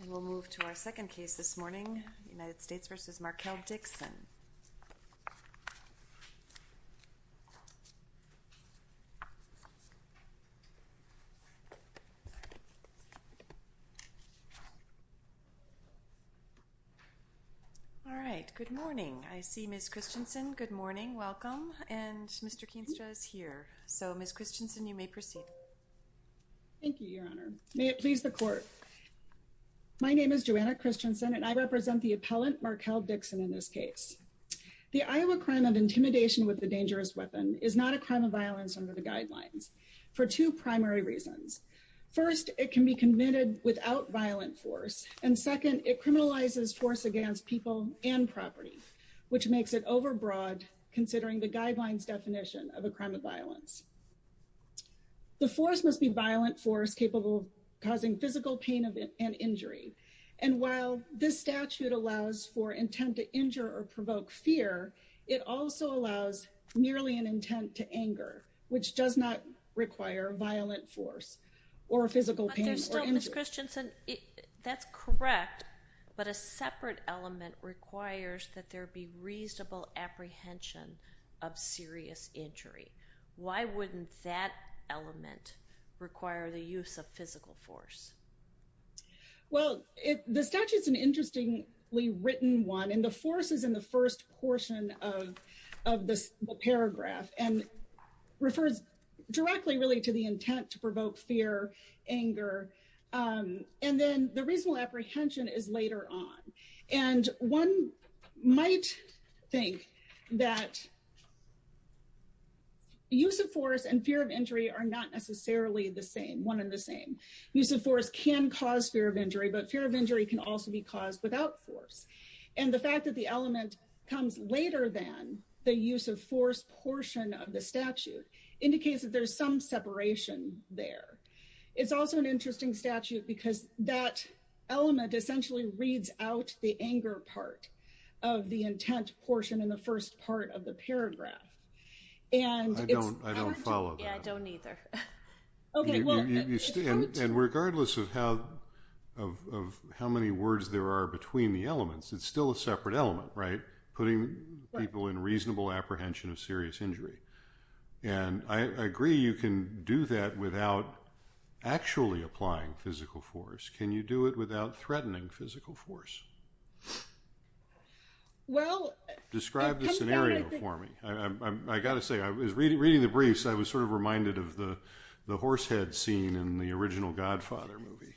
And we'll move to our second case this morning, United States v. Markell Dixon. All right. Good morning. I see Ms. Christensen. Good morning. Welcome. And Mr. Keenstra is here. So, Ms. Christensen, you may proceed. Thank you, Your Honor. May it please the Court. My name is Joanna Christensen, and I represent the appellant Markell Dixon in this case. The Iowa crime of intimidation with a dangerous weapon is not a crime of violence under the Guidelines for two primary reasons. First, it can be committed without violent force, and second, it criminalizes force against people and property, which makes it overbroad considering the Guidelines definition of a crime of violence. The force must be violent force capable of causing physical pain and injury. And while this statute allows for intent to injure or provoke fear, it also allows merely an intent to anger, which does not require violent force or physical pain or injury. But there's still, Ms. Christensen, that's correct, but a separate element requires that there be reasonable apprehension of serious injury. Why wouldn't that element require the use of physical force? Well, the statute's an interestingly written one, and the force is in the first portion of this paragraph and refers directly, really, to the intent to provoke fear, anger, and then the reasonable apprehension is later on. And one might think that use of force and fear of injury are not necessarily the same, one and the same. Use of force can cause fear of injury, but fear of injury can also be caused without force. And the fact that the element comes later than the use of force portion of the statute indicates that there's some separation there. It's also an interesting statute because that element essentially reads out the anger part of the intent portion in the first part of the paragraph. I don't follow that. Yeah, I don't either. And regardless of how many words there are between the elements, it's still a separate element, right? Putting people in reasonable apprehension of serious injury. And I agree you can do that without actually applying physical force. Can you do it without threatening physical force? Well, I think— Describe the scenario for me. I've got to say, reading the briefs, I was sort of reminded of the horse head scene in the original Godfather movie.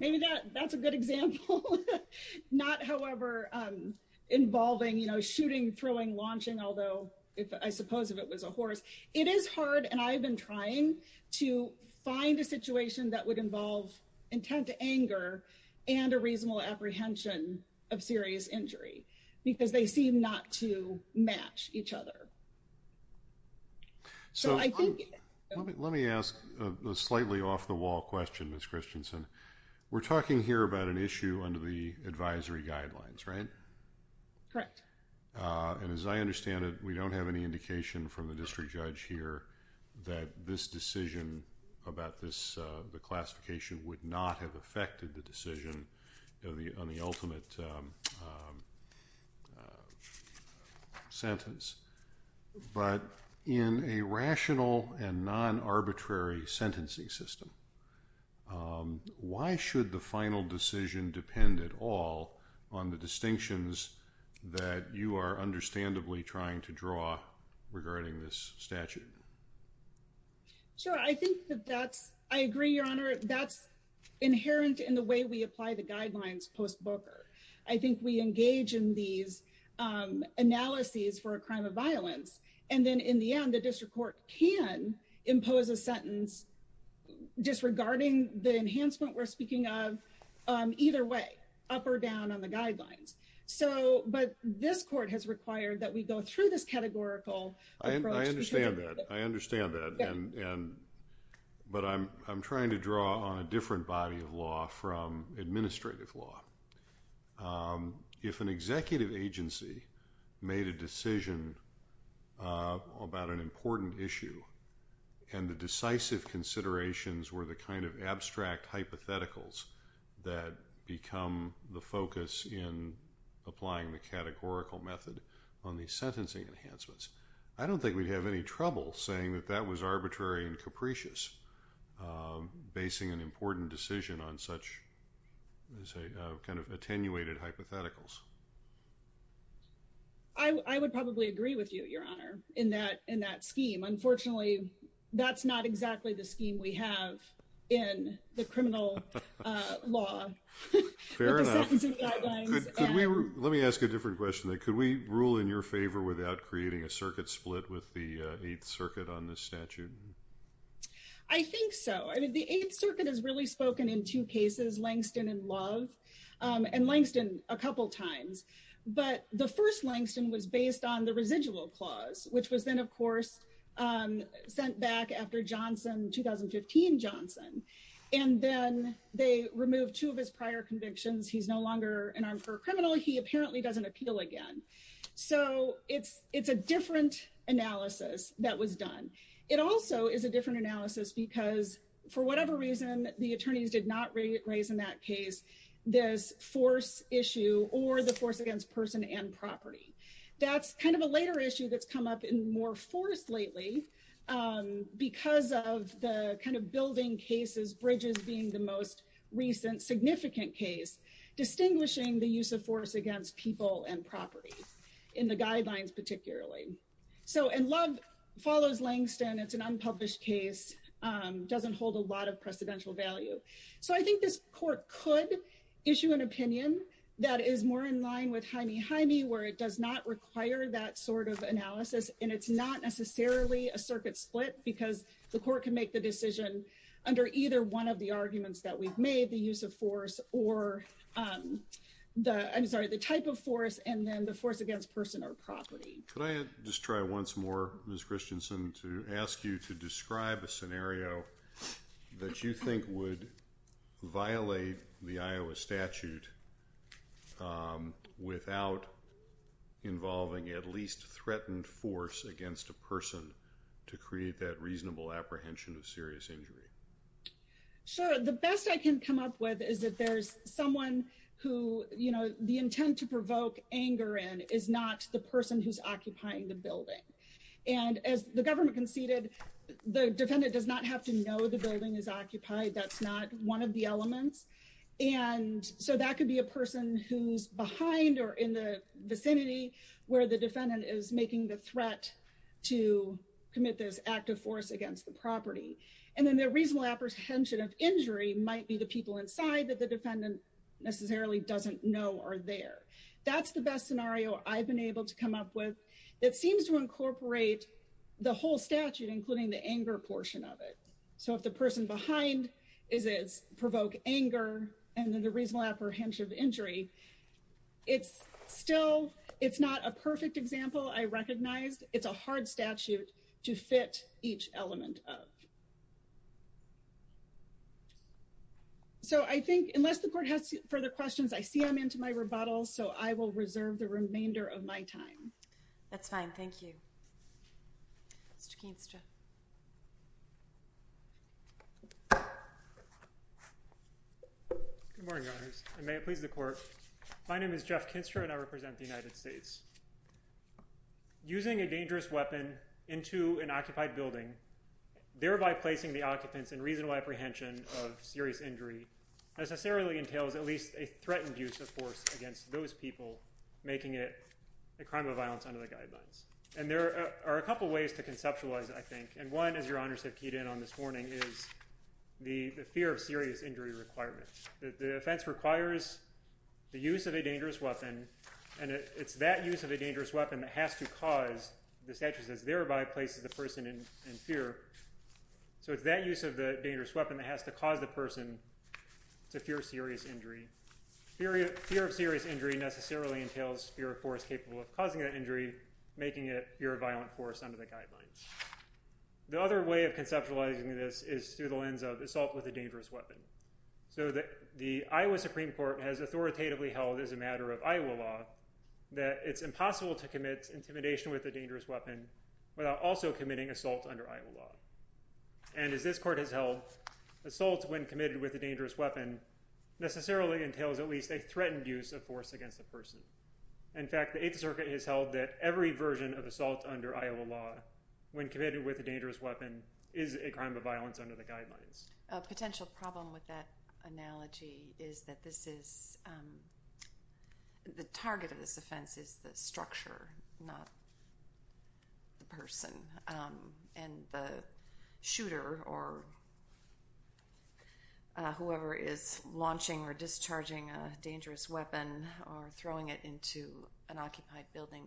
Maybe that's a good example. Not, however, involving, you know, shooting, throwing, launching, although I suppose if it was a horse. It is hard, and I've been trying, to find a situation that would involve intent to anger and a reasonable apprehension of serious injury because they seem not to match each other. So I think— Let me ask a slightly off-the-wall question, Ms. Christensen. We're talking here about an issue under the advisory guidelines, right? Correct. And as I understand it, we don't have any indication from the district judge here that this decision about the classification would not have affected the decision on the ultimate sentence. But in a rational and non-arbitrary sentencing system, why should the final decision depend at all on the distinctions that you are understandably trying to draw regarding this statute? Sure. I think that that's—I agree, Your Honor. That's inherent in the way we apply the guidelines post-Booker. I think we engage in these analyses for a crime of violence. And then in the end, the district court can impose a sentence disregarding the enhancement we're speaking of either way, up or down on the guidelines. So—but this court has required that we go through this categorical approach. I understand that. I understand that. But I'm trying to draw on a different body of law from administrative law. If an executive agency made a decision about an important issue and the decisive considerations were the kind of abstract hypotheticals that become the focus in applying the categorical method on these sentencing enhancements, I don't think we'd have any trouble saying that that was arbitrary and capricious, basing an important decision on such kind of attenuated hypotheticals. I would probably agree with you, Your Honor, in that scheme. Unfortunately, that's not exactly the scheme we have in the criminal law. Fair enough. With the sentencing guidelines. Let me ask a different question. Could we rule in your favor without creating a circuit split with the Eighth Circuit on this statute? I think so. I mean, the Eighth Circuit has really spoken in two cases, Langston and Love, and Langston a couple times. But the first, Langston, was based on the residual clause, which was then, of course, sent back after Johnson, 2015 Johnson. And then they removed two of his prior convictions. He's no longer an armed criminal. He apparently doesn't appeal again. So it's a different analysis that was done. It also is a different analysis because, for whatever reason, the attorneys did not raise in that case this force issue or the force against person and property. That's kind of a later issue that's come up in more force lately because of the kind of building cases, Bridges being the most recent significant case, distinguishing the use of force against people and property in the guidelines, particularly. So and Love follows Langston. It's an unpublished case. Doesn't hold a lot of precedential value. So I think this court could issue an opinion that is more in line with Jaime Jaime, where it does not require that sort of analysis. And it's not necessarily a circuit split because the court can make the decision under either one of the arguments that we've made the use of force or the I'm sorry, the type of force. And then the force against person or property. Could I just try once more? Miss Christensen to ask you to describe a scenario that you think would violate the Iowa statute without involving at least threatened force against a person to create that reasonable apprehension of serious injury. Sure, the best I can come up with is that there's someone who, you know, the intent to provoke anger and is not the person who's occupying the building. And as the government conceded the defendant does not have to know the building is occupied. That's not one of the elements. And so that could be a person who's behind or in the vicinity where the defendant is making the threat to commit this act of force against the property. And then the reasonable apprehension of injury might be the people inside that the defendant necessarily doesn't know are there. That's the best scenario. I've been able to come up with that seems to incorporate the whole statute, including the anger portion of it. So if the person behind is provoke anger and then the reasonable apprehension of injury, it's still it's not a perfect example. I recognized it's a hard statute to fit each element of. So I think unless the court has further questions, I see I'm into my rebuttal. So I will reserve the remainder of my time. That's fine. Thank you. Mr. Keenstra. Good morning. May it please the court. My name is Jeff Kinstra and I represent the United States. Using a dangerous weapon into an occupied building, thereby placing the occupants in reasonable apprehension of serious injury necessarily entails at least a threatened use of force against those people, making it a crime of violence under the guidelines. And there are a couple of ways to conceptualize, I think. And one, as your honors have keyed in on this morning, is the fear of serious injury requirement. The offense requires the use of a dangerous weapon, and it's that use of a dangerous weapon that has to cause the statute says thereby places the person in fear. So it's that use of the dangerous weapon that has to cause the person to fear serious injury. Fear of serious injury necessarily entails fear of force capable of causing that injury, making it fear of violent force under the guidelines. The other way of conceptualizing this is through the lens of assault with a dangerous weapon. So the Iowa Supreme Court has authoritatively held as a matter of Iowa law that it's impossible to commit intimidation with a dangerous weapon without also committing assault under Iowa law. And as this court has held, assault when committed with a dangerous weapon necessarily entails at least a threatened use of force against the person. In fact, the Eighth Circuit has held that every version of assault under Iowa law when committed with a dangerous weapon is a crime of violence under the guidelines. A potential problem with that analogy is that the target of this offense is the structure, not the person. And the shooter or whoever is launching or discharging a dangerous weapon or throwing it into an occupied building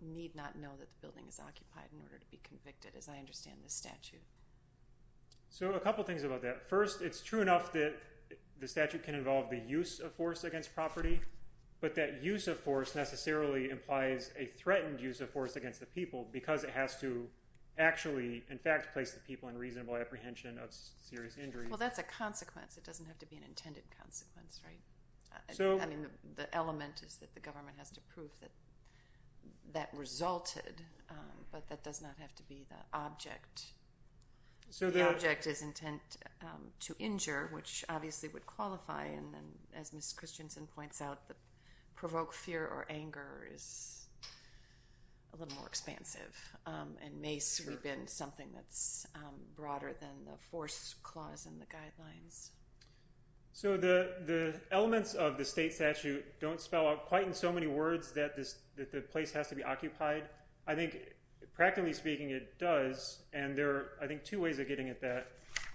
need not know that the building is occupied in order to be convicted, as I understand this statute. So a couple things about that. First, it's true enough that the statute can involve the use of force against property, but that use of force necessarily implies a threatened use of force against the people because it has to actually, in fact, place the people in reasonable apprehension of serious injury. Well, that's a consequence. It doesn't have to be an intended consequence, right? I mean, the element is that the government has to prove that that resulted, but that does not have to be the object. The object is intent to injure, which obviously would qualify, and as Ms. Christensen points out, provoke fear or anger is a little more expansive and may sweep in something that's broader than the force clause in the guidelines. So the elements of the state statute don't spell out quite in so many words that the place has to be occupied. I think, practically speaking, it does, and there are, I think, two ways of getting at that.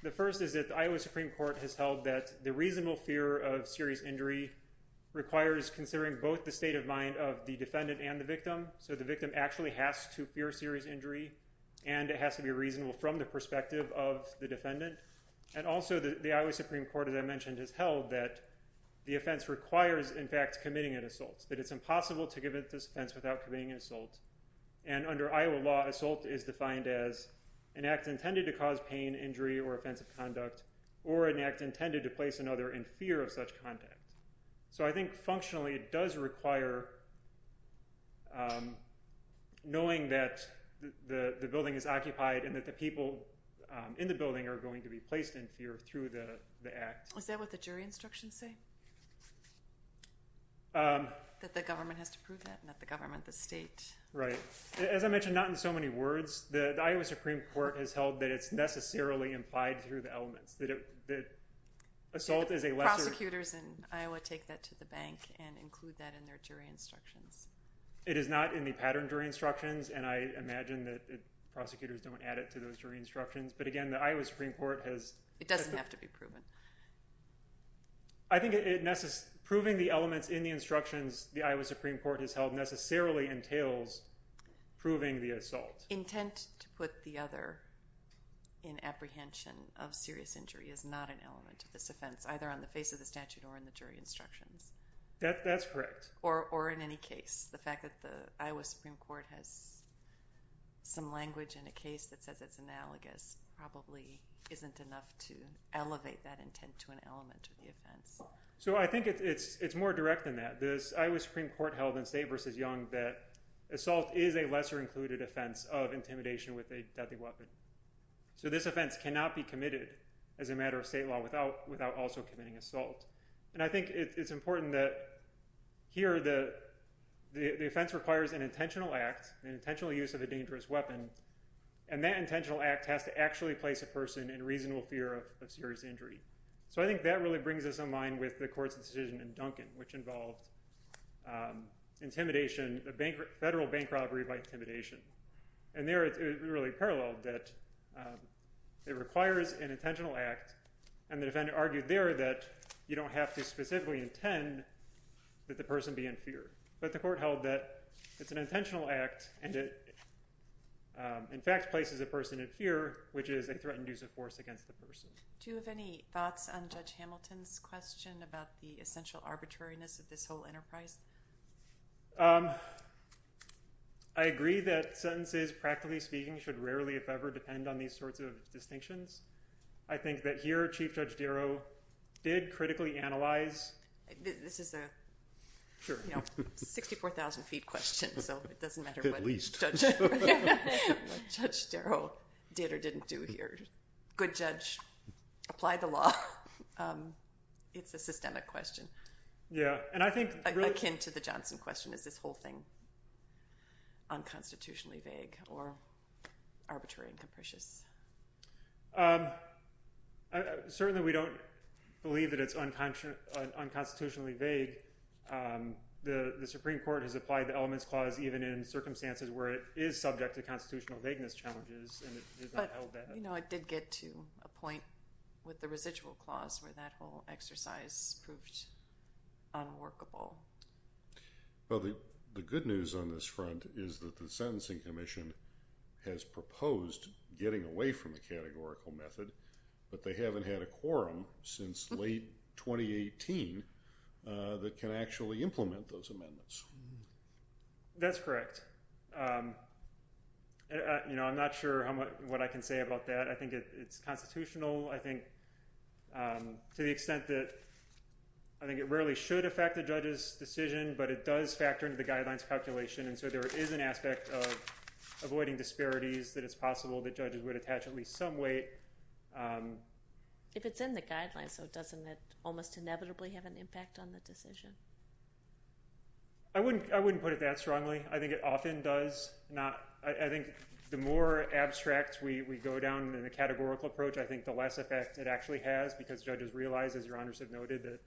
The first is that the Iowa Supreme Court has held that the reasonable fear of serious injury requires considering both the state of mind of the defendant and the victim, so the victim actually has to fear serious injury, and it has to be reasonable from the perspective of the defendant. And also, the Iowa Supreme Court, as I mentioned, has held that the offense requires, in fact, committing an assault, that it's impossible to commit this offense without committing an assault. And under Iowa law, assault is defined as an act intended to cause pain, injury, or offensive conduct or an act intended to place another in fear of such conduct. So I think, functionally, it does require knowing that the building is occupied and that the people in the building are going to be placed in fear through the act. Is that what the jury instructions say? That the government has to prove that, not the government, the state. Right. As I mentioned, not in so many words. The Iowa Supreme Court has held that it's necessarily implied through the elements, that assault is a lesser… Prosecutors in Iowa take that to the bank and include that in their jury instructions. It is not in the pattern jury instructions, and I imagine that prosecutors don't add it to those jury instructions, but again, the Iowa Supreme Court has… It doesn't have to be proven. I think proving the elements in the instructions the Iowa Supreme Court has held necessarily entails proving the assault. Intent to put the other in apprehension of serious injury is not an element of this offense, either on the face of the statute or in the jury instructions. That's correct. Or in any case, the fact that the Iowa Supreme Court has some language in a case that says it's analogous probably isn't enough to elevate that intent to an element of the offense. I think it's more direct than that. The Iowa Supreme Court held in State v. Young that assault is a lesser included offense of intimidation with a deadly weapon. This offense cannot be committed as a matter of state law without also committing assault. I think it's important that here the offense requires an intentional act, an intentional use of a dangerous weapon, and that intentional act has to actually place a person in reasonable fear of serious injury. I think that really brings us in line with the court's decision in Duncan, which involved intimidation, a federal bank robbery by intimidation. There it really paralleled that it requires an intentional act, and the defendant argued there that you don't have to specifically intend that the person be in fear. But the court held that it's an intentional act, and it in fact places a person in fear, which is a threatened use of force against the person. Do you have any thoughts on Judge Hamilton's question about the essential arbitrariness of this whole enterprise? I agree that sentences, practically speaking, should rarely, if ever, depend on these sorts of distinctions. I think that here Chief Judge Darrow did critically analyze... This is a 64,000 feet question, so it doesn't matter what Judge Darrow did or didn't do here. Apply the law. It's a systemic question. Yeah, and I think... Akin to the Johnson question, is this whole thing unconstitutionally vague or arbitrary and capricious? Certainly we don't believe that it's unconstitutionally vague. The Supreme Court has applied the Elements Clause even in circumstances where it is subject to constitutional vagueness challenges, and it is not held that way. You know, I did get to a point with the Residual Clause where that whole exercise proved unworkable. Well, the good news on this front is that the Sentencing Commission has proposed getting away from the categorical method, but they haven't had a quorum since late 2018 that can actually implement those amendments. That's correct. You know, I'm not sure what I can say about that. I think it's constitutional. To the extent that I think it rarely should affect a judge's decision, but it does factor into the guidelines calculation, and so there is an aspect of avoiding disparities that it's possible that judges would attach at least some weight. If it's in the guidelines, so doesn't it almost inevitably have an impact on the decision? I wouldn't put it that strongly. I think it often does. I think the more abstract we go down in the categorical approach, I think the less effect it actually has, because judges realize, as Your Honors have noted, that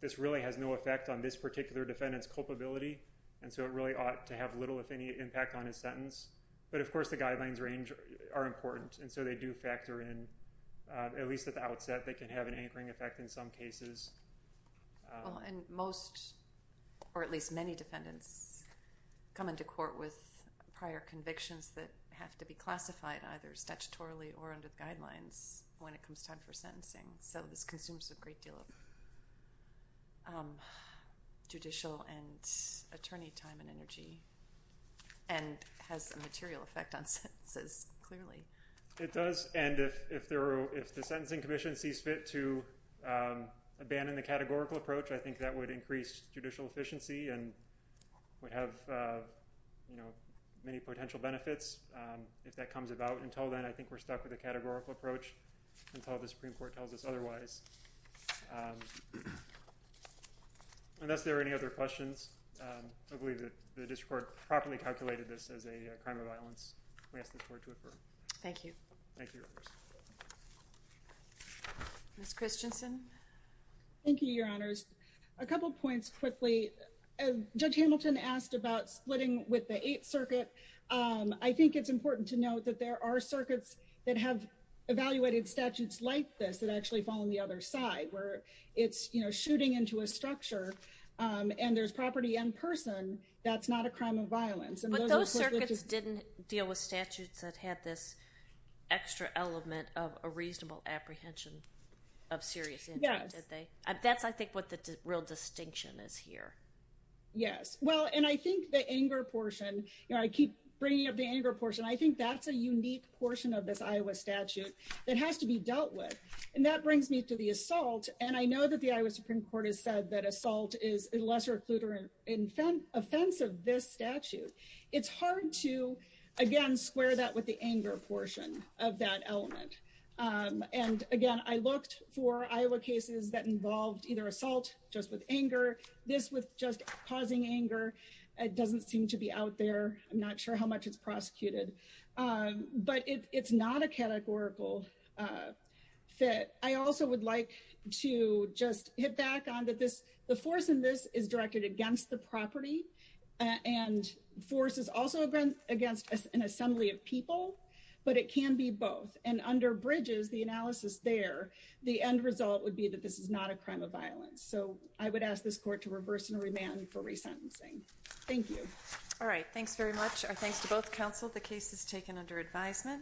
this really has no effect on this particular defendant's culpability, and so it really ought to have little, if any, impact on his sentence. But, of course, the guidelines range are important, and so they do factor in, at least at the outset, they can have an anchoring effect in some cases. Well, and most, or at least many defendants come into court with prior convictions that have to be classified either statutorily or under the guidelines when it comes time for sentencing, so this consumes a great deal of judicial and attorney time and energy, and has a material effect on sentences, clearly. It does, and if the sentencing commission sees fit to abandon the categorical approach, I think that would increase judicial efficiency and would have many potential benefits if that comes about. Until then, I think we're stuck with the categorical approach until the Supreme Court tells us otherwise. Unless there are any other questions, I believe the district court properly calculated this as a crime of violence. Thank you. Thank you, Your Honors. Ms. Christensen? Thank you, Your Honors. A couple points quickly. Judge Hamilton asked about splitting with the Eighth Circuit. I think it's important to note that there are circuits that have evaluated statutes like this that actually fall on the other side, where it's, you know, shooting into a structure, and there's property in person, that's not a crime of violence. But those circuits didn't deal with statutes that had this extra element of a reasonable apprehension of serious injuries, did they? That's, I think, what the real distinction is here. Yes, well, and I think the anger portion, you know, I keep bringing up the anger portion, I think that's a unique portion of this Iowa statute that has to be dealt with, and that brings me to the assault, and I know that the Iowa Supreme Court has said that assault is a lesser occluder in offense of this statute. It's hard to, again, square that with the anger portion of that element. And, again, I looked for Iowa cases that involved either assault, just with anger, this with just causing anger, it doesn't seem to be out there. I'm not sure how much it's prosecuted. But it's not a categorical fit. I also would like to just hit back on that the force in this is directed against the property, and force is also against an assembly of people, but it can be both. And under Bridges, the analysis there, the end result would be that this is not a crime of violence. So I would ask this court to reverse and remand for resentencing. Thank you. All right, thanks very much. Our thanks to both counsel. The case is taken under advisement.